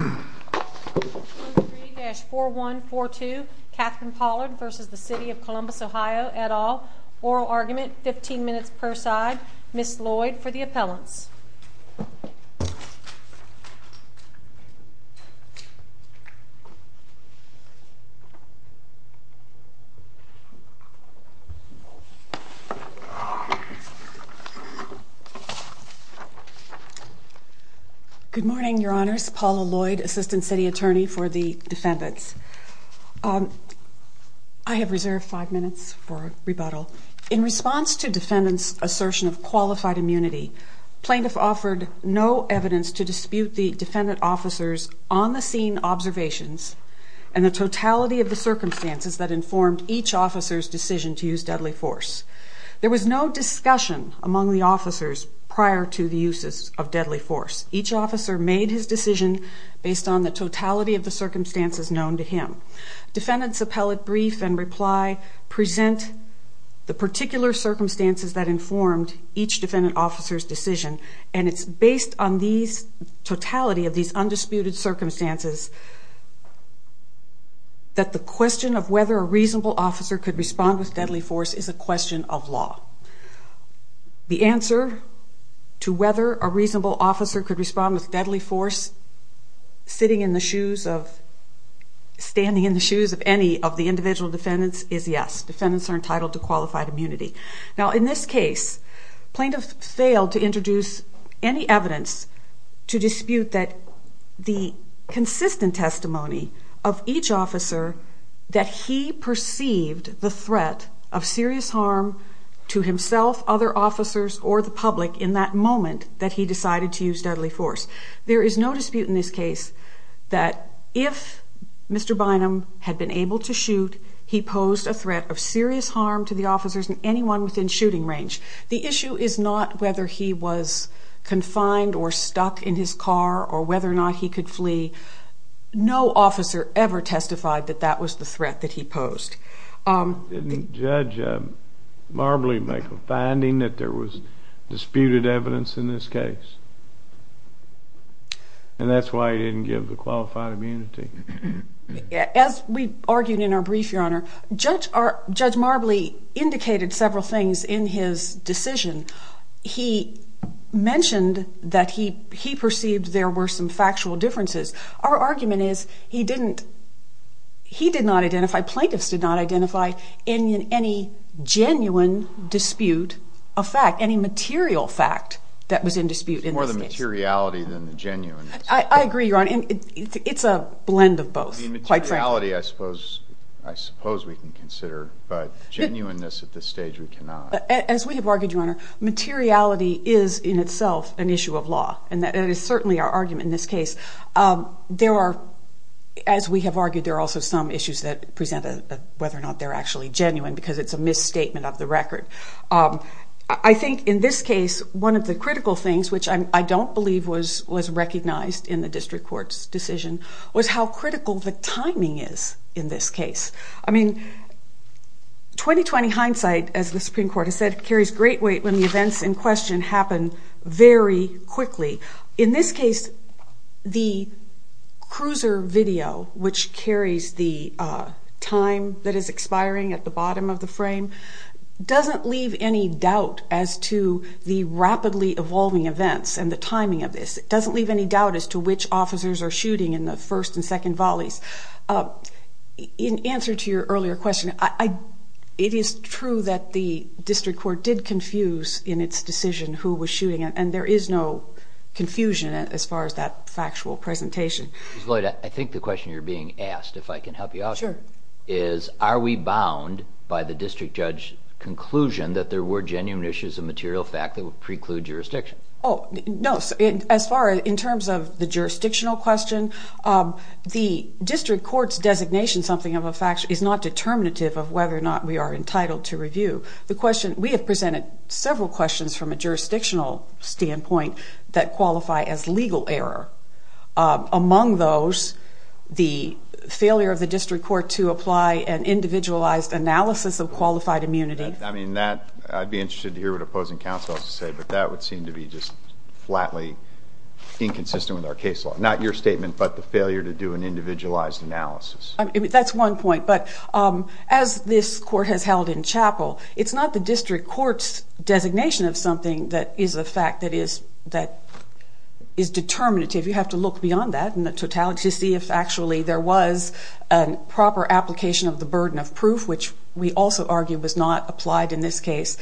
Oral argument, 15 minutes per side. Ms. Lloyd, for the appellants. Good morning, your honors. Paula Lloyd, assistant city attorney for the defendants. I have reserved five minutes for rebuttal. In response to defendants assertion of qualified immunity, plaintiff offered no evidence to dispute the defendant officers on the scene observations and the totality of the circumstances that informed each officers decision to use deadly force. There was no discussion among the officers prior to the uses of deadly force. Each officer made his decision based on the totality of the circumstances known to him. Defendants appellate brief and reply present the particular circumstances that informed each defendant officer's decision and it's based on these totality of these undisputed circumstances that the question of whether a reasonable officer could respond with deadly force is a question for the plaintiff. The answer to whether a reasonable officer could respond with deadly force sitting in the shoes of, standing in the shoes of any of the individual defendants is yes. Defendants are entitled to qualified immunity. Now in this case, plaintiff failed to introduce any evidence to dispute that the consistent testimony of each officer that he perceived the threat of serious harm to the individual defendant's life. There is no dispute in this case that if Mr. Bynum had been able to shoot, he posed a threat of serious harm to the officers and anyone within shooting range. The issue is not whether he was confined or stuck in his car or whether or not he could flee. No officer ever testified that that was the threat that he posed. Didn't Judge Marbley make a finding that there was disputed evidence in this case? And that's why he didn't give the qualified immunity. As we argued in our brief, Your Honor, Judge Marbley indicated several things in his decision. He mentioned that he perceived there were some factual differences. Our argument is he didn't, he did not identify, plaintiffs did not identify any genuine dispute of fact, any material fact that was in dispute in this case. More the materiality than the genuineness. I agree, Your Honor. It's a blend of both. The materiality I suppose we can consider, but genuineness at this stage we cannot. As we have argued, Your Honor, materiality is in itself an issue of law and that is certainly our argument in this case. There are, as we have argued, there are also some issues that present whether or not they're actually genuine because it's a misstatement of the record. I think in this case one of the critical things, which I don't believe was recognized in the district court's decision, was how critical the timing is in this case. I mean, 20-20 hindsight, as the Supreme Court has said, carries great weight when the events in question happen very quickly. In this case the cruiser video, which carries the time that is expiring at the bottom of the frame, doesn't leave any doubt as to the rapidly evolving events and the timing of this. It doesn't leave any doubt as to which officers are shooting in the first and second volleys. In answer to your earlier question, it is true that the district court did confuse in its decision who was shooting and there is no confusion as far as that factual presentation. Ms. Lloyd, I think the question you're being asked, if I can help you out here, is are we bound by the district judge's conclusion that there were genuine issues of material fact that would preclude jurisdiction? Oh, no. As far as in terms of the jurisdictional question, the district court's designation something of a fact is not determinative of whether or not we are entitled to review. We have presented several questions from a jurisdictional standpoint that qualify as legal error. Among those, the failure of the district court to apply an individualized analysis of qualified immunity. I'd be interested to hear what opposing counsel has to say, but that would seem to be just flatly inconsistent with our case law. Not your statement, but the failure to do an individualized analysis. That's one point, but as this court has held in chapel, it's not the district court's designation of something that is a fact that is determinative. You have to look beyond that in the totality to see if actually there was a proper application of the burden of proof, which we also argue was not applied in this case.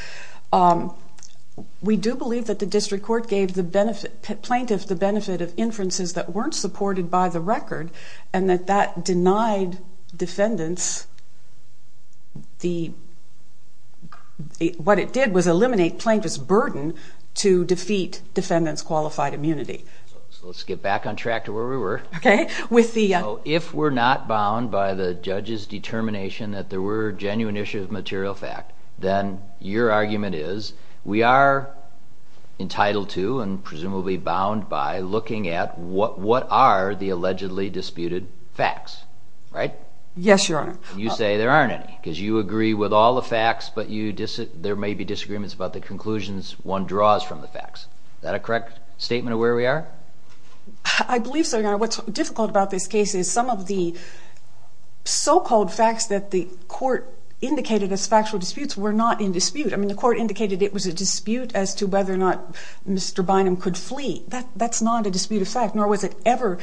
We do believe that the district court gave the plaintiff the benefit of inferences that weren't supported by the record and that that denied defendants the, what it did was eliminate plaintiff's burden to defeat defendants' qualified immunity. Let's get back on track to where we were. If we're not bound by the judge's determination that there were genuine issues of material fact, then your argument is we are entitled to and presumably bound by looking at what are the allegedly disputed facts. Yes, Your Honor. You say there aren't any because you agree with all the facts, but there may be disagreements about the conclusions one draws from the facts. Is that a correct statement of where we are? I believe so, Your Honor. What's difficult about this case is some of the so-called facts that the court indicated as factual disputes were not in dispute. I mean, the court indicated it was a dispute as to whether or not Mr. Bynum could flee. That's not a dispute of fact, nor was it ever.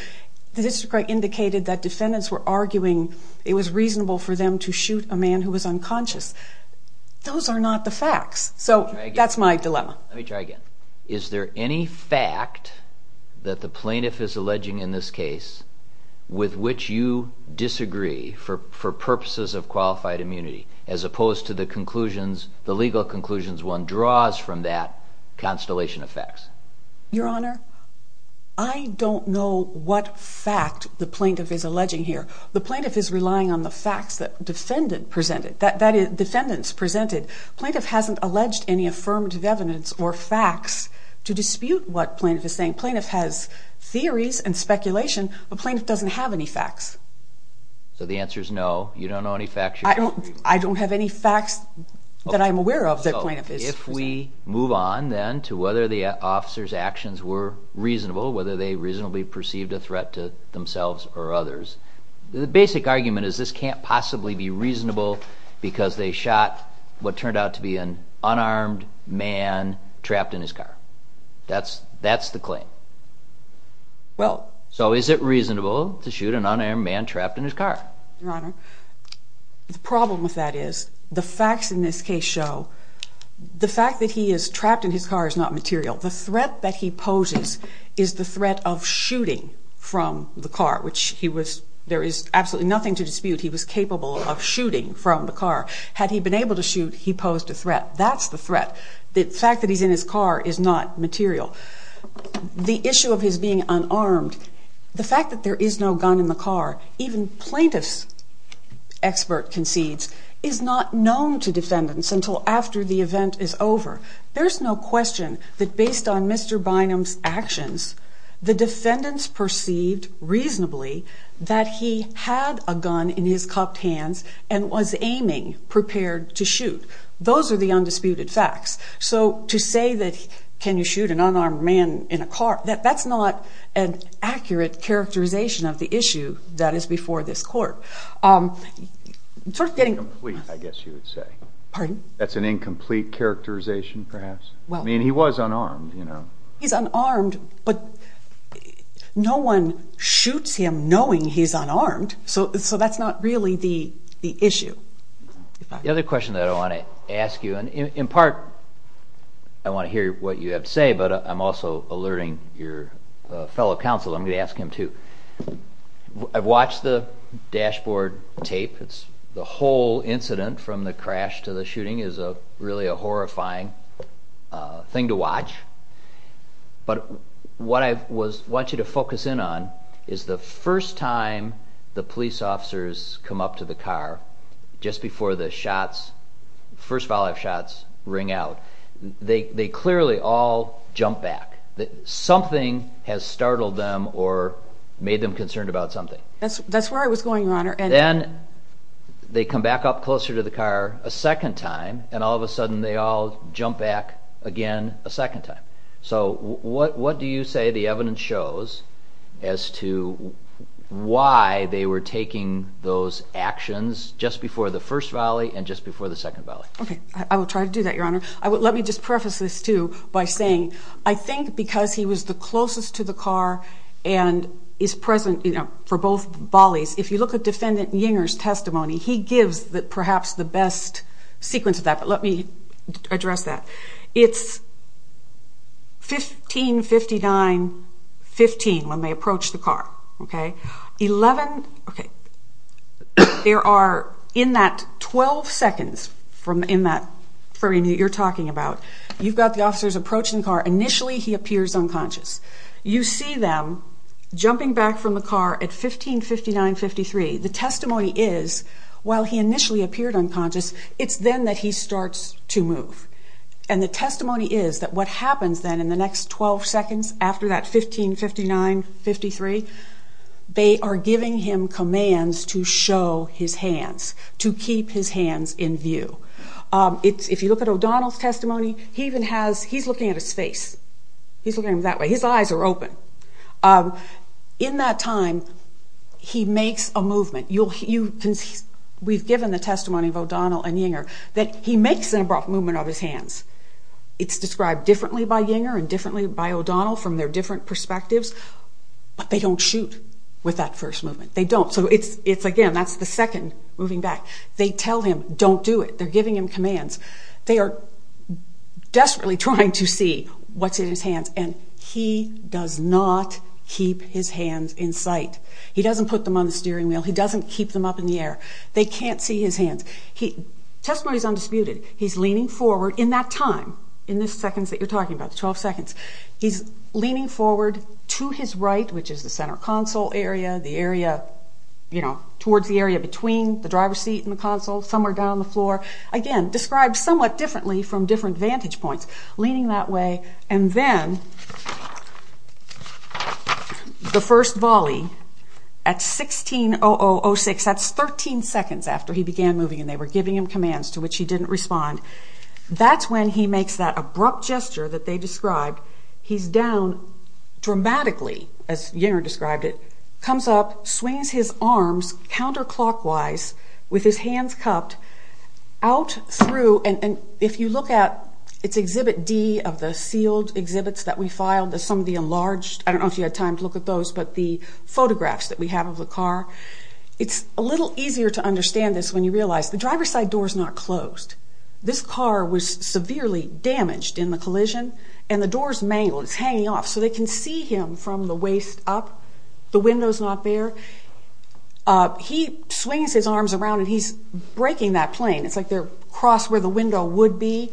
The district court indicated that defendants were arguing it was reasonable for them to shoot a man who was unconscious. Those are not the facts. So that's my dilemma. Let me try again. Is there any fact that the plaintiff is alleging in this case with which you disagree for purposes of qualified immunity, as opposed to the legal conclusions one draws from that constellation of facts? Your Honor, I don't know what fact the plaintiff is alleging here. The plaintiff is relying on the facts that defendants presented. The plaintiff hasn't alleged any affirmative evidence or facts to dispute what the plaintiff is saying. The plaintiff has theories and speculation, but the plaintiff doesn't have any facts. So the answer is no, you don't know any facts? I don't have any facts that I'm aware of that the plaintiff is presenting. If we move on, then, to whether the officers' actions were reasonable, whether they reasonably perceived a threat to themselves or others. The basic argument is this can't possibly be reasonable because they shot what turned out to be an unarmed man trapped in his car. That's the claim. So is it reasonable to shoot an unarmed man trapped in his car? Your Honor, the problem with that is the facts in this case show the fact that he is trapped in his car is not material. The threat that he poses is the threat of shooting from the car, which there is absolutely nothing to dispute he was capable of shooting from the car. Had he been able to shoot, he posed a threat. That's the threat. The fact that he's in his car is not material. The issue of his being unarmed, the fact that there is no gun in the car, even plaintiff's expert concedes, is not known to defendants until after the event is over. There's no question that based on Mr. Bynum's actions, the defendants perceived reasonably that he had a gun in his cupped hands and was aiming prepared to shoot. Those are the undisputed facts. So to say that can you shoot an unarmed man in a car, that's not an accurate characterization of the issue that is before this court. Incomplete, I guess you would say. Pardon? That's an incomplete characterization, perhaps. I mean, he was unarmed, you know. He's unarmed, but no one shoots him knowing he's unarmed, so that's not really the issue. The other question that I want to ask you, and in part I want to hear what you have to say, but I'm also alerting your fellow counsel, I'm going to ask him too. I've watched the dashboard tape. The whole incident, from the crash to the shooting, is really a horrifying thing to watch. But what I want you to focus in on is the first time the police officers come up to the car, just before the first volley of shots ring out, they clearly all jump back. Something has startled them or made them concerned about something. That's where I was going, Your Honor. Then they come back up closer to the car a second time, and all of a sudden they all jump back again a second time. So what do you say the evidence shows as to why they were taking those actions just before the first volley and just before the second volley? Okay, I will try to do that, Your Honor. Let me just preface this too by saying, I think because he was the closest to the car and is present for both volleys, if you look at Defendant Yinger's testimony, he gives perhaps the best sequence of that. But let me address that. It's 15-59-15 when they approach the car. In that 12 seconds frame that you're talking about, you've got the officers approaching the car, initially he appears unconscious. You see them jumping back from the car at 15-59-53. The testimony is, while he initially appeared unconscious, it's then that he starts to move. The testimony is that what happens then in the next 12 seconds after that 15-59-53, they are giving him commands to show his hands, to keep his hands in view. If you look at O'Donnell's testimony, he's looking at his face. He's looking at him that way. His eyes are open. In that time, he makes a movement. We've given the testimony of O'Donnell and Yinger that he makes an abrupt movement of his hands. It's described differently by Yinger and differently by O'Donnell from their different perspectives, but they don't shoot with that first movement. Again, that's the second moving back. They tell him, don't do it. They're giving him commands. They are desperately trying to see what's in his hands, and he does not keep his hands in sight. He doesn't put them on the steering wheel. He doesn't keep them up in the air. They can't see his hands. The testimony is undisputed. He's leaning forward in that time, in the seconds that you're talking about, the 12 seconds. He's leaning forward to his right, which is the center console area, towards the area between the driver's seat and the console, somewhere down the floor. Again, described somewhat differently from different vantage points. Leaning that way, and then the first volley at 16,0006. That's 13 seconds after he began moving, and they were giving him commands to which he didn't respond. That's when he makes that abrupt gesture that they described. He's down dramatically, as Yinger described it. Comes up, swings his arms counterclockwise with his hands cupped out through. If you look at, it's exhibit D of the sealed exhibits that we filed, some of the enlarged. I don't know if you had time to look at those, but the photographs that we have of the car. It's a little easier to understand this when you realize the driver's side door's not closed. This car was severely damaged in the collision, and the door's mangled. It's hanging off, so they can see him from the waist up. The window's not there. He swings his arms around, and he's breaking that plane. It's like they're across where the window would be.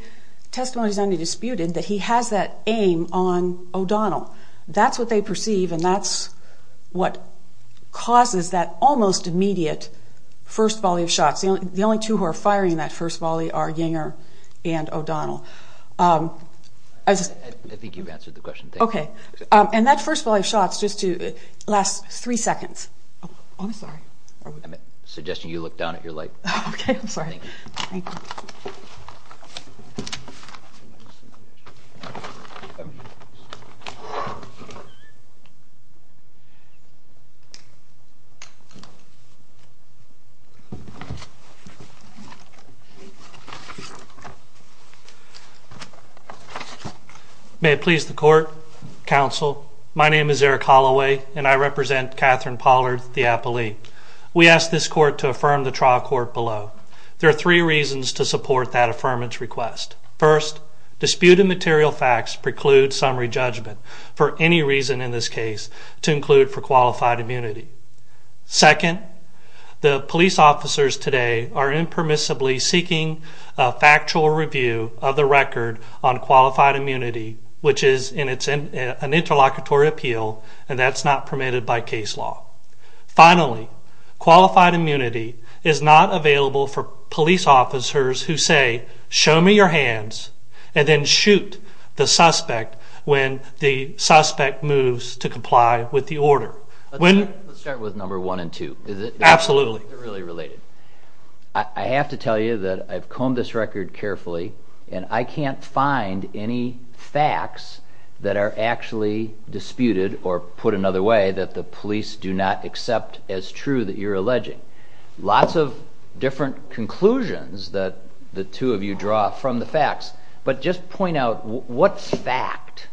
Testimony's undisputed that he has that aim on O'Donnell. That's what they perceive, and that's what causes that almost immediate first volley of shots. The only two who are firing in that first volley are Yinger and O'Donnell. I think you've answered the question. Okay, and that first volley of shots lasts three seconds. I'm sorry. I'm suggesting you look down at your light. Okay, I'm sorry. May it please the Court, Counsel. My name is Eric Holloway, and I represent Catherine Pollard, the appellee. We ask this Court to affirm the trial court below. There are three reasons to support that affirmance request. First, disputed material facts preclude summary judgment, for any reason in this case to include for qualified immunity. Second, the police officers today are impermissibly seeking a factual review of the record on qualified immunity, which is an interlocutory appeal, and that's not permitted by case law. Finally, qualified immunity is not available for police officers who say, show me your hands, and then shoot the suspect when the suspect moves to comply with the order. Let's start with number one and two. Absolutely. They're really related. I have to tell you that I've combed this record carefully, and I can't find any facts that are actually disputed, or put another way, that the police do not accept as true that you're alleging. Lots of different conclusions that the two of you draw from the facts, but just point out what fact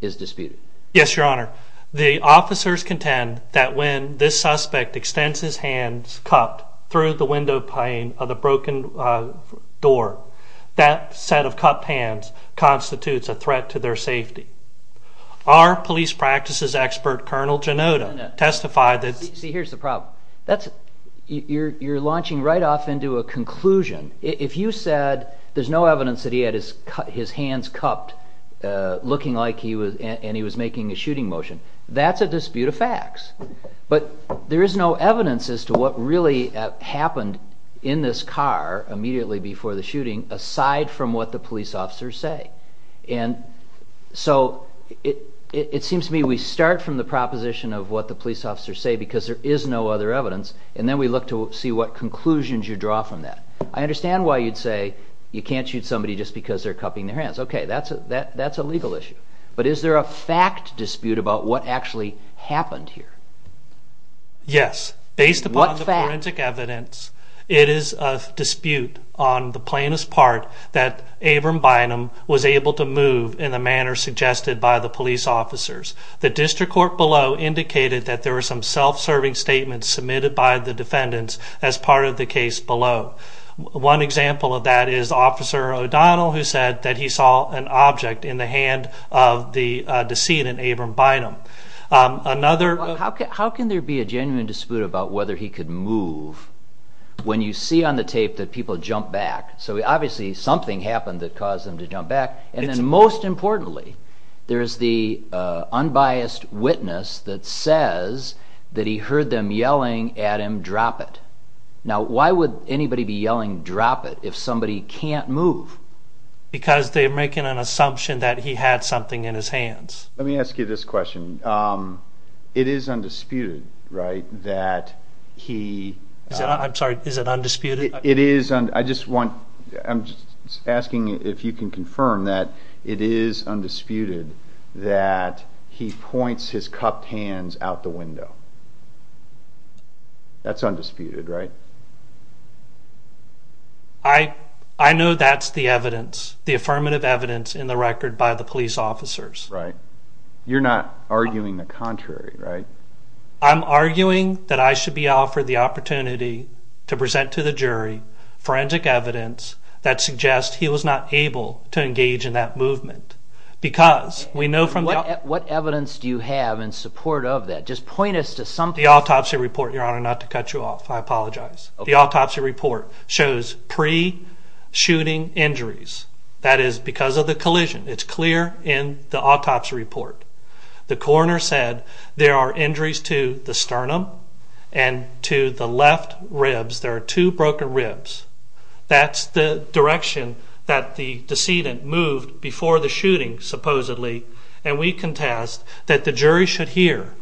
is disputed. Yes, Your Honor. The officers contend that when this suspect extends his hands, cupped, through the window pane of the broken door, that set of cupped hands constitutes a threat to their safety. Our police practices expert, Colonel Genota, testified that... See, here's the problem. You're launching right off into a conclusion. If you said there's no evidence that he had his hands cupped, looking like he was making a shooting motion, that's a dispute of facts. But there is no evidence as to what really happened in this car immediately before the shooting, aside from what the police officers say. And so it seems to me we start from the proposition of what the police officers say because there is no other evidence, and then we look to see what conclusions you draw from that. I understand why you'd say you can't shoot somebody just because they're cupping their hands. Okay, that's a legal issue. But is there a fact dispute about what actually happened here? Yes. Based upon the forensic evidence, it is a dispute on the plainest part that Abram Bynum was able to move in the manner suggested by the police officers. The district court below indicated that there were some self-serving statements submitted by the defendants as part of the case below. One example of that is Officer O'Donnell, who said that he saw an object in the hand of the decedent, Abram Bynum. Another... How can there be a genuine dispute about whether he could move when you see on the tape that people jump back? So obviously something happened that caused them to jump back. And then most importantly, there's the unbiased witness that says that he heard them yelling at him, drop it. Now why would anybody be yelling drop it if somebody can't move? Because they're making an assumption that he had something in his hands. Let me ask you this question. It is undisputed, right, that he... I'm sorry, is it undisputed? It is undisputed. I just want... I'm just asking if you can confirm that it is undisputed that he points his cupped hands out the window. That's undisputed, right? I know that's the evidence, the affirmative evidence in the record by the police officers. Right. You're not arguing the contrary, right? I'm arguing that I should be offered the opportunity to present to the jury forensic evidence that suggests he was not able to engage in that movement. Because we know from... What evidence do you have in support of that? Just point us to something... The autopsy report, Your Honor, not to cut you off, I apologize. The autopsy report shows pre-shooting injuries. That is because of the collision. It's clear in the autopsy report. The coroner said there are injuries to the sternum and to the left ribs. There are two broken ribs. That's the direction that the decedent moved before the shooting, supposedly. And we contest that the jury should hear...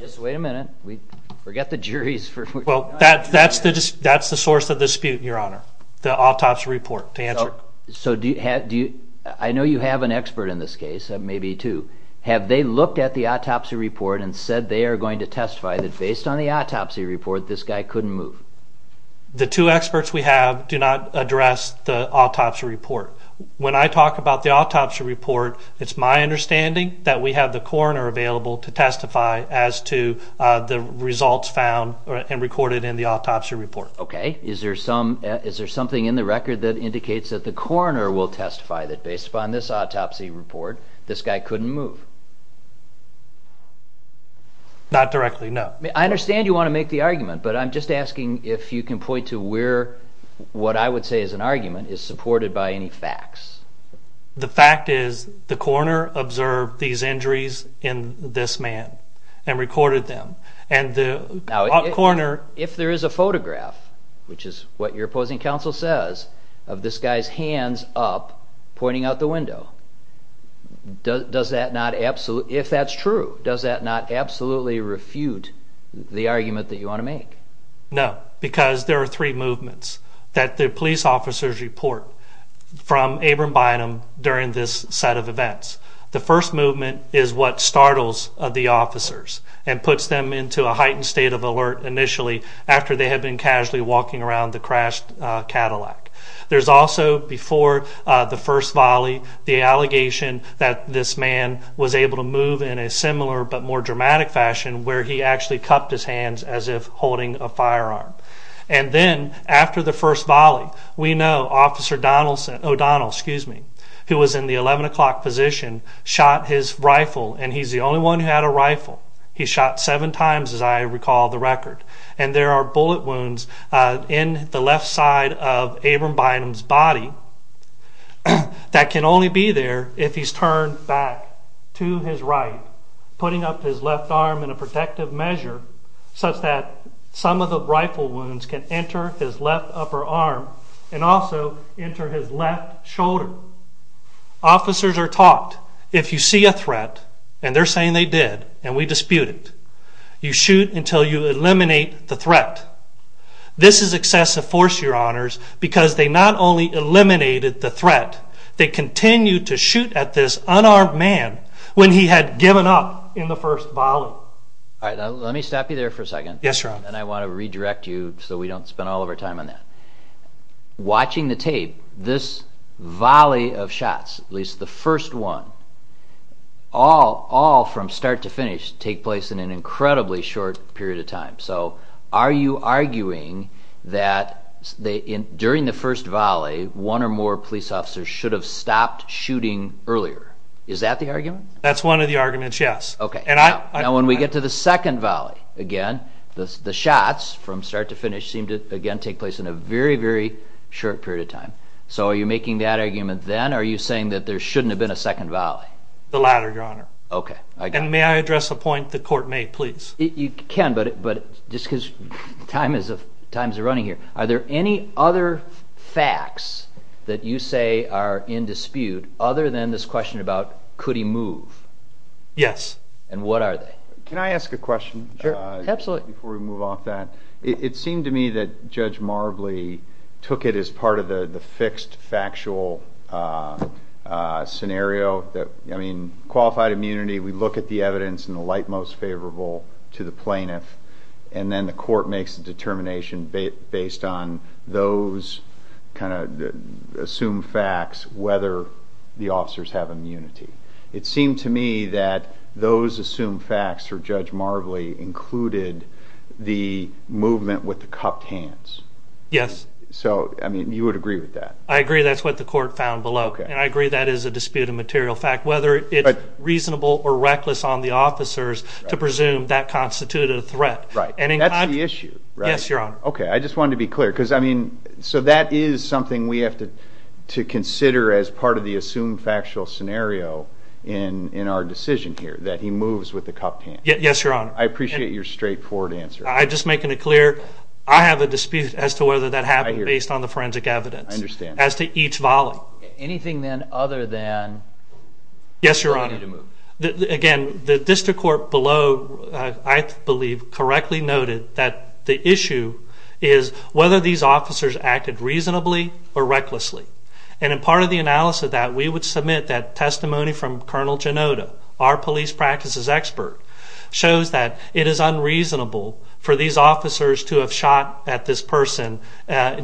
Just wait a minute. We forget the jury's... Well, that's the source of the dispute, Your Honor, the autopsy report to answer. So do you... I know you have an expert in this case, maybe two. Have they looked at the autopsy report and said they are going to testify that based upon the autopsy report, this guy couldn't move? The two experts we have do not address the autopsy report. When I talk about the autopsy report, it's my understanding that we have the coroner available to testify as to the results found and recorded in the autopsy report. Okay. Is there something in the record that indicates that the coroner will testify that based upon this autopsy report, this guy couldn't move? Not directly, no. I understand you want to make the argument, but I'm just asking if you can point to where what I would say is an argument is supported by any facts. The fact is the coroner observed these injuries in this man and recorded them. And the coroner... Now, if there is a photograph, which is what your opposing counsel says, of this guy's hands up pointing out the window, does that not absolutely... If that's true, does that not absolutely refute the argument that you want to make? No, because there are three movements that the police officers report from Abram Bynum during this set of events. The first movement is what startles the officers and puts them into a heightened state of alert initially after they had been casually walking around the crashed Cadillac. There's also, before the first volley, the allegation that this man was able to move in a similar but more dramatic fashion where he actually cupped his hands as if holding a firearm. And then, after the first volley, we know Officer O'Donnell, who was in the 11 o'clock position, shot his rifle, and he's the only one who had a rifle. He shot seven times, as I recall the record. And there are bullet wounds in the left side of Abram Bynum's body that can only be there if he's turned back to his right, putting up his left arm in a protective measure such that some of the rifle wounds can enter his left upper arm and also enter his left shoulder. Officers are taught if you see a threat, and they're saying they did, and we dispute it, you shoot until you eliminate the threat. This is excessive force, Your Honors, but they eliminated the threat. They continued to shoot at this unarmed man when he had given up in the first volley. All right, let me stop you there for a second. Yes, Your Honor. And I want to redirect you so we don't spend all of our time on that. Watching the tape, this volley of shots, at least the first one, all from start to finish take place in an incredibly short period of time. So you're saying that one or more police officers should have stopped shooting earlier. Is that the argument? That's one of the arguments, yes. Now, when we get to the second volley, again, the shots from start to finish seem to, again, take place in a very, very short period of time. So are you making that argument then, or are you saying that there shouldn't have been a second volley? The latter, Your Honor. And may I address a point the Court may, please? That you say are in dispute other than this question about could he move? Yes. And what are they? Can I ask a question? Sure. Absolutely. Before we move off that. It seemed to me that Judge Marbley took it as part of the fixed, factual scenario. I mean, qualified immunity, we look at the evidence and the light most favorable to the plaintiff, and then the Court makes a determination based on those kind of assumed facts, whether the officers have immunity. It seemed to me that those assumed facts for Judge Marbley included the movement with the cupped hands. Yes. So, I mean, you would agree with that? I agree that's what the Court found below. And I agree that is a disputed material fact, whether it's reasonable or reckless on the officers to presume that constituted a threat. Right. That's the issue, right? Yes, Your Honor. Okay. I just wanted to be clear, because, I mean, so that is something we have to consider as part of the assumed factual scenario in our decision here, that he moves with the cupped hands. Yes, Your Honor. I appreciate your straightforward answer. I'm just making it clear, I have a dispute as to whether that happened based on the forensic evidence. I understand. As to each volley. Anything then other than Yes, Your Honor. Again, the District Court below, I believe, correctly noted that the issue is whether these officers acted reasonably or recklessly. And in part of the analysis of that, we would submit that testimony from Colonel Genota, our police practices expert, shows that it is unreasonable for these officers to have shot at this person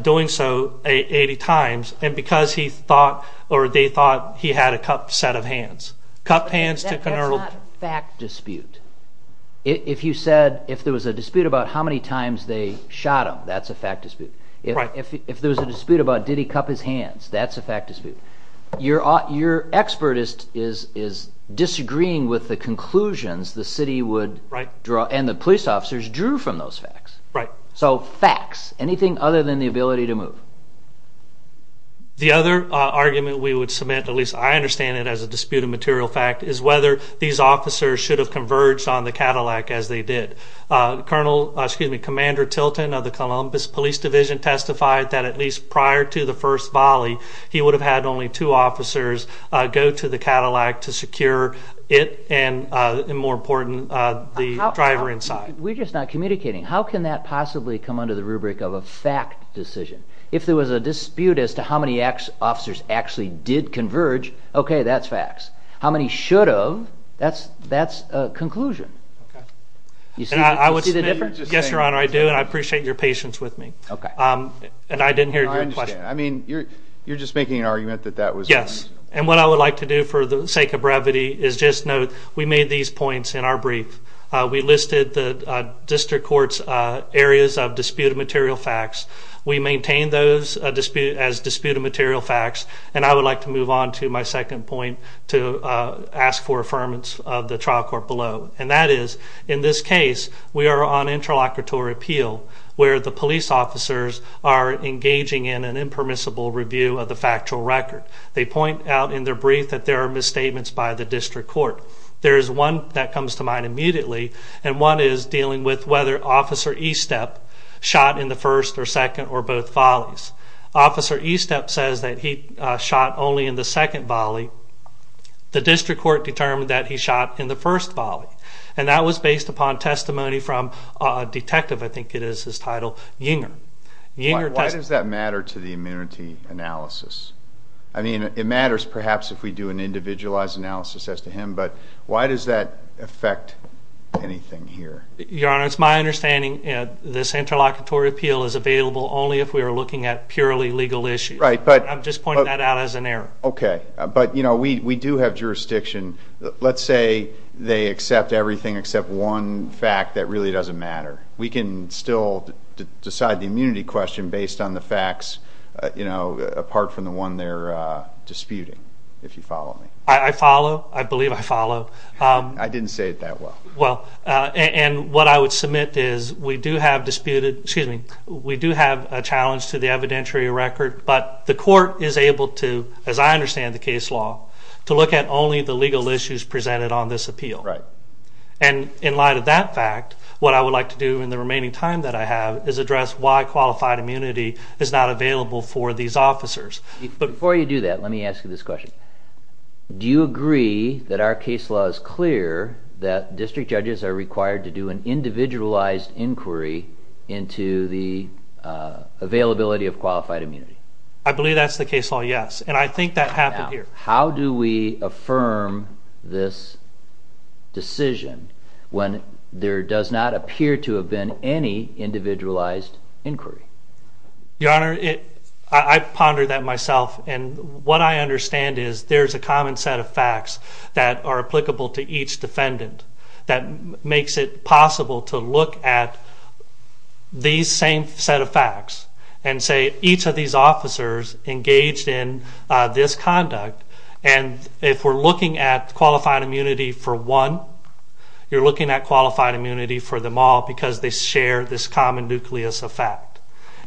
doing so 80 times and because he thought or they thought he had a cupped set of hands. Cup hands to Colonel That's not a fact dispute. If you said if there was a dispute about how many times they shot him, that's a fact dispute. Right. If there was a dispute about did he cup his hands, that's a fact dispute. Your expert is disagreeing with the conclusions the city would draw and the police officers drew from those facts. Right. So, facts. Anything other than the ability to move? The other argument we would submit, at least I understand it as a disputed material fact, is whether these officers should have converged on the Cadillac as they did. Colonel, excuse me, Commander Tilton of the Columbus Police Division testified that at least prior to the first volley he would have had only two officers go to the Cadillac to secure it and more important the driver inside. We're just not communicating. How can that possibly of a fact decision? If there was a dispute as to how many officers actually did converge, okay, that's facts. How many should have, that's a conclusion. Okay. Do you see the difference? Yes, Your Honor, I do and I appreciate your patience with me. Okay. And I didn't hear your question. I understand. I mean, you're just making an argument that that was... Yes. And what I would like to do for the sake of brevity is just note, we made these points in our brief. We listed the District Court's areas of disputed material facts. We maintain those as disputed material facts and I would like to move on to my second point to ask for affirmance of the trial court below and that is, in this case, we are on interlocutory appeal where the police officers are engaging in an impermissible review of the factual record. They point out in their brief that there are misstatements by the District Court. There is one immediately and one is dealing with whether Officer Estep shot in the first or second or both volleys. Officer Estep says that he shot only in the second volley and that was based upon testimony from a I think it is his title, Yinger. Why does that matter to the immunity analysis? I mean, it matters perhaps if we do an individualized analysis as to him but why does that affect anything here? Your Honor, it is my understanding that this interlocutory appeal is available only if we are looking at purely legal issues. I am just pointing that out as an error. Okay. But we do have jurisdiction. Let's say they accept everything except one fact that really doesn't matter. We can still decide the immunity question based on the facts apart from the one they are disputing, if you follow me. I follow. I believe I follow. I didn't say it that well. And what I would submit is we do have a challenge to the evidentiary record but the court is able to, as I understand the case law, to look at only the legal issues presented on this appeal. And in light of that fact, what I would like to do in the remaining time that I have is address why qualified immunity is not available for these officers. Before you do that, let me ask question. Do you think judges are required to do an individualized inquiry into the availability of qualified immunity? I believe that's the case law, yes. And I think that happened here. Now, how do we affirm this decision when there does not appear to have been any individualized inquiry? Your Honor, I ponder that myself and what I understand is there's a common set of facts that are applicable to each defendant that makes it possible to look at these same set of facts and say each of these officers engaged in this conduct and if we're looking at qualified immunity for one, you're looking at qualified immunity for them all because they share this common nucleus of fact.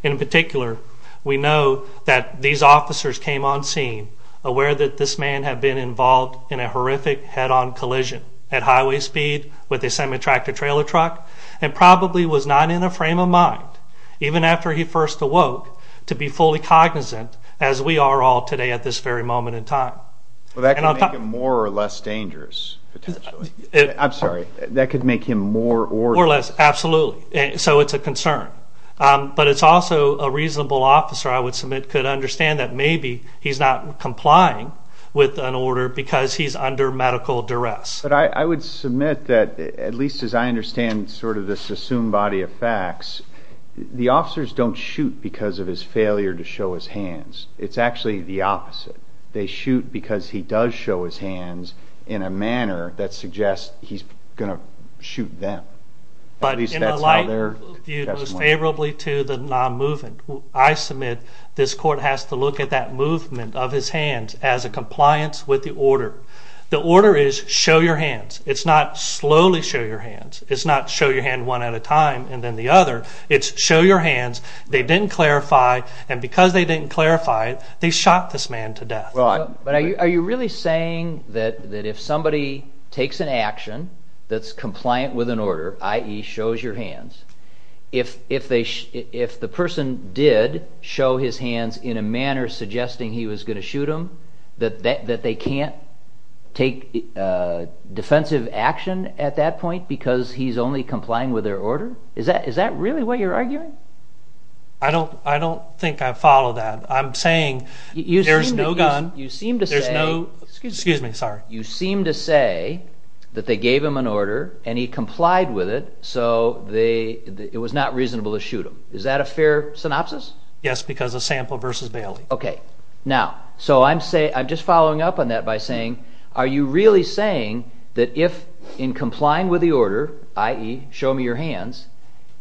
In particular, we know that these officers came on scene aware that this man had been involved in a horrific head-on collision at highway speed with a semi-tractor trailer truck and probably was not in a frame of mind even after he first awoke to be fully cognizant as we are all today at this very moment in time. That could make him more or less dangerous. Absolutely. So it's a concern. But it's also a reasonable concern. And I think the general officer, I would submit, could understand that maybe he's not complying with an order because he's under medical duress. But I would submit that, at least as I understand sort of this assumed the officers don't shoot because of his failure to show his hands. It's actually the opposite. They shoot because he does show his hands in a manner that suggests he's going to shoot them. In a light view, most favorably to the non-movement, I submit this court has to look at that movement of his hands as a compliance with the order. The order is show your hands. It's not slowly show your hands. It's not show your hands one at a time and then the other. It's show your hands. They didn't clarify. They shot this man to death. But are you really saying that if somebody takes an action that's compliant with an order, i.e. shows your hands, if the person did show his hands in a manner suggesting he was going to shoot him, that they can't take defensive action at that point because he's only complying with their order? Is that really what you're arguing? I don't think I follow that. I'm saying there's no gun. There's no excuse me. You seem to say that they gave him an order and he complied with it so it was not reasonable to shoot him. Is that a fair synopsis? Yes, because a sample versus Bailey. I'm just following up on that by saying are you really saying that if in complying with the order, i.e. show me your hands,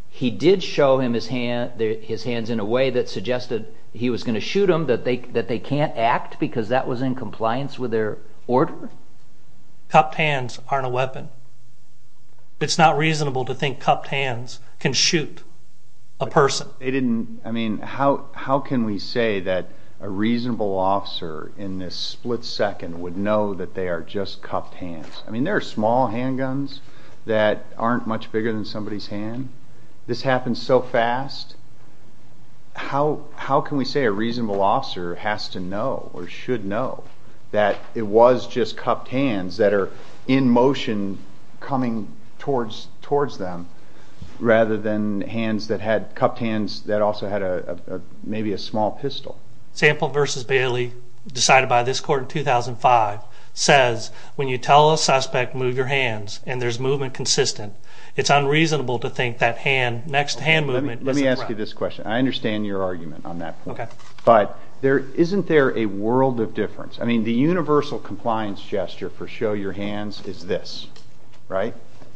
he did show him his hands in a way that suggested he was going to shoot him, that they can't act because that was in compliance with their order? Cup hands aren't a weapon. It's not reasonable to think cup hands can shoot a person. How can we say that a reasonable officer in this split second would know that they are just cup hands? There are small handguns that aren't much bigger than somebody's hand. This happens so fast. How can we say a reasonable officer has to know or should know that it was just cup hands that are in motion coming towards them rather than hands that had cup hands that also had maybe a small pistol? Sample versus Bailey decided by this court in 2005 says when you tell a suspect move your hands and there's movement that's consistent it's unreasonable to think that next hand movement isn't correct. Let me ask you this question. I understand your argument on that point. Isn't there a world of difference? The universal compliance gesture for show your hands is this.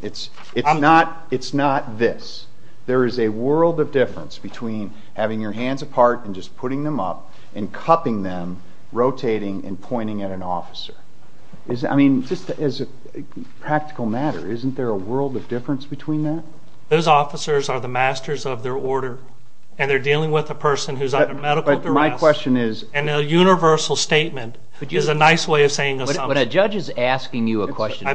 It's not this. There is a world of difference between having your hands apart and just putting them up and cupping them, rotating and pointing at an officer. As a practical matter, isn't there a world of difference between that? Those officers are the masters of their order and they're dealing with a person who's under medical duress and a universal statement is a nice way of saying something. When a judge is asking you a question,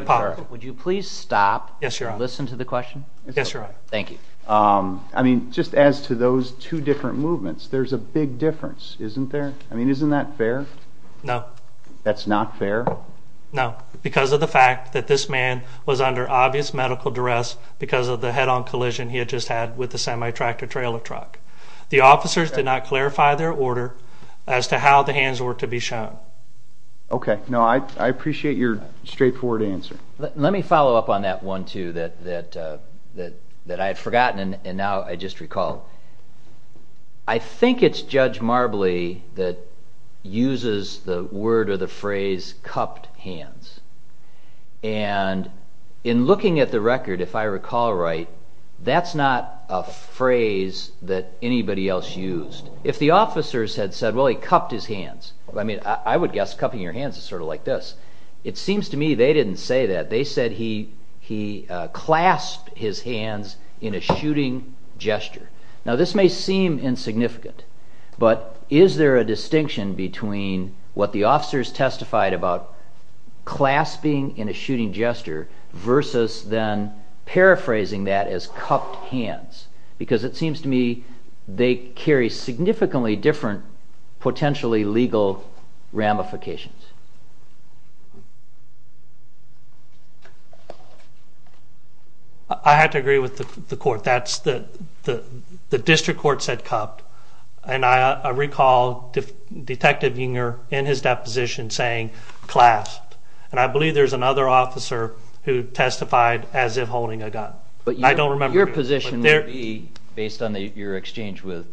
would you please stop and listen to the question? Yes, Your Honor. Thank you. Just as to those two different movements, there's a big difference, isn't there? I mean, isn't that fair? No. That's not fair? No, because of the fact that this man was under obvious medical duress because of the head-on collision he had just had with the semi-tractor trailer truck. The officers did not clarify their order as to how the hands were to be shown. Okay. I appreciate your straightforward answer. Let me follow up on that one too that I've forgotten and now I just recall. I think it's Judge Marbley that uses the word or the phrase cupped hands. And in looking at the record, if I recall right, that's not a phrase that anybody else used. If the officers had said, well, he cupped his hands. I mean, I would guess cupping your hands is sort of like this. It seems to me they didn't say that. They said he clasped his hands in a shooting gesture. Now, this may seem insignificant, but is there a distinction between what the officers testified about clasping in a shooting gesture versus then paraphrasing that as cupped hands? Because it seems to me they carry significantly different potentially legal ramifications. I have to agree with the court. The district court said cupped. And I recall Detective Unger in his deposition saying clasped. And I believe there's another officer who testified as if holding a gun. I don't remember. Your position would be, based on your exchange with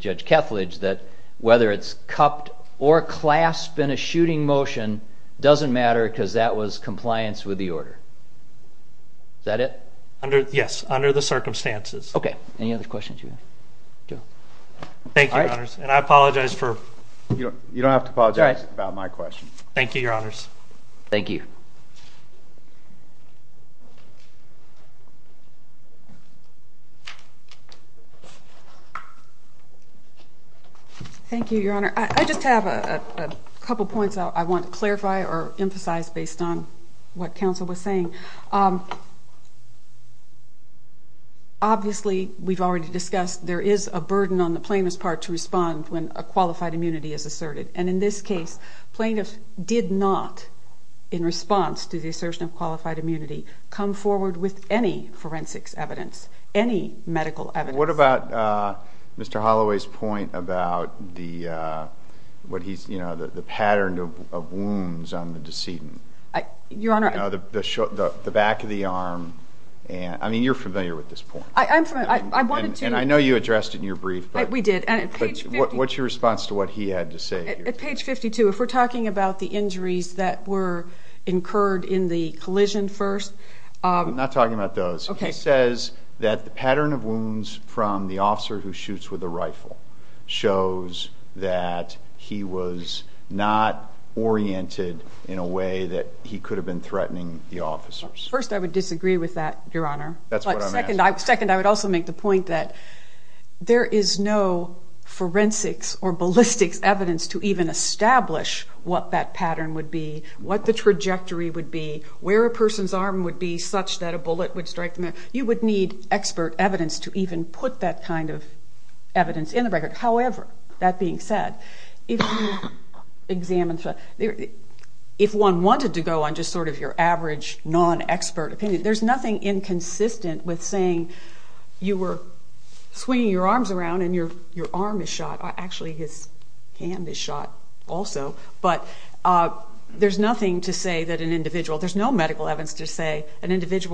Judge Kethledge, that whether it's cupped or clasped in a shooting motion doesn't matter because that was compliance with the order. Is that it? Yes. Under the circumstances. Okay. Any other questions? Thank you, Your Honors. And I apologize for... You don't have to apologize about my question. Thank you, Your Honors. Thank you. Thank you, Your Honor. I just have a couple points I want to clarify or emphasize based on what counsel was saying. Obviously, we've already discussed there is a burden on the plaintiff's part to respond when a qualified immunity is asserted. And in this case, plaintiff did not, in response to the assertion of qualified immunity, come forward with any forensics evidence, any medical evidence. What about Mr. Holloway's point about the pattern of wounds on the decedent? Your Honor... The back of the arm. I mean, you're familiar with this point. I'm familiar. I wanted to... I know you addressed it in your brief. We did. What's your response to what he had to say? At page 52, if we're talking about the injuries that were incurred in the collision first... I'm not talking about those. Okay. He says that the pattern of wounds from the officer who shoots with a rifle shows that he was not oriented in a way that he could have been threatening the officers. First, I would disagree with that, Your Honor. That's what I'm asking. Second, I would also make the point that there is no forensics or ballistics evidence to even establish what that pattern would be, what the trajectory would be, where a person's arm would be such that a person his arm around. That's not an expert opinion. There's nothing inconsistent with saying you were swinging your arms around and your arm is shot. Actually, his hand is shot also. But there's nothing to say that an individual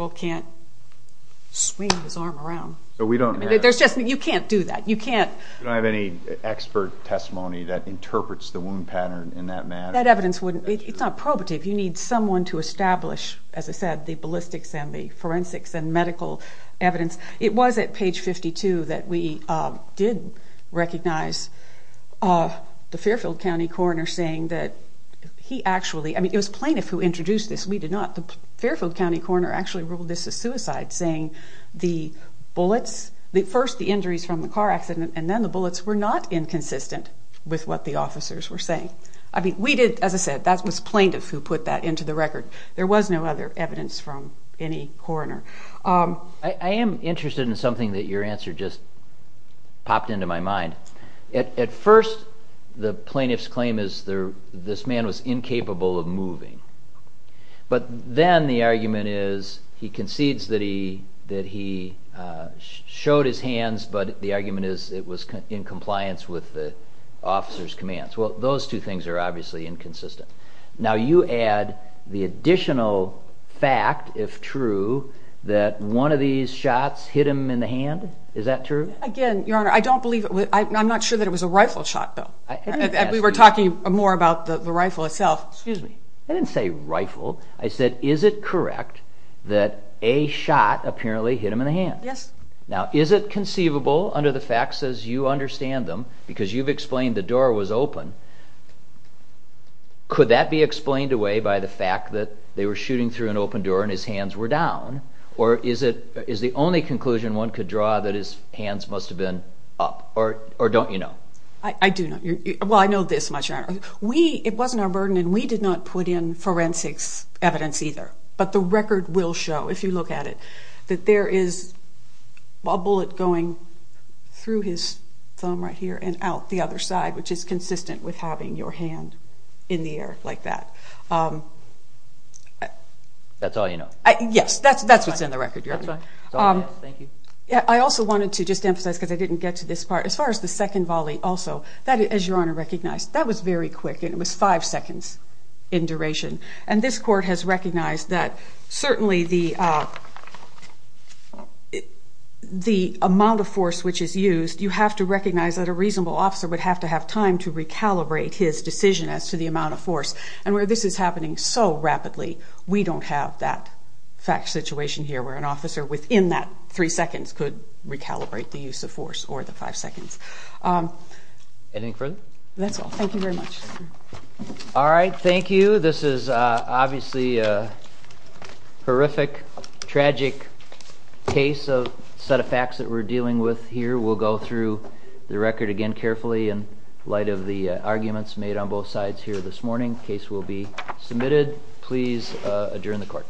can't swing his arm around. That's not the ballistics and the forensics and medical evidence. It was at page 52 that we did recognize the Fairfield County coroner saying that he actually introduced this. The coroner ruled this as suicide saying the bullets first the injuries from the car accident and then the bullets were not inconsistent with what the officers were saying. That was plaintiff who put that into the record. There was no other evidence from any coroner. I am interested in something that your answer just popped into my mind. At first the plaintiff's claim is this man was incapable of moving. But then the argument is he concedes that he showed his hands but the argument is it was in compliance with the officer's commands. Those two things are obviously inconsistent. Now you add the additional fact if true that one of these shots hit him in the hand. Is that true? I'm not sure it was a rifle shot though. We were talking more about the rifle itself. I didn't say rifle. I said is it correct that a shot apparently hit him in the hand. Is it conceivable under the facts as you understand them because you've explained the door was open, could that be explained away by the fact that they were shooting through an open door and his hands were down or is the only conclusion one could draw that his hands must have been up or don't you know? I do know. I know this much. It wasn't our burden and we didn't worry about that. I wanted to emphasize because I didn't get to this part as far as the second volley. That was very quick and it was five seconds in duration. This court has recognized that certainly the amount of force which is used you have to recognize that a reasonable officer would have to have time to recalibrate his decision as to the amount of force and where this is happening so rapidly we don't have that situation where an officer within that three seconds could recalibrate the use of force or the five seconds. That's all. Thank you Thank you. We will go through the record again carefully in light of the arguments made on both sides here this morning. The case will be submitted. Please adjourn the court.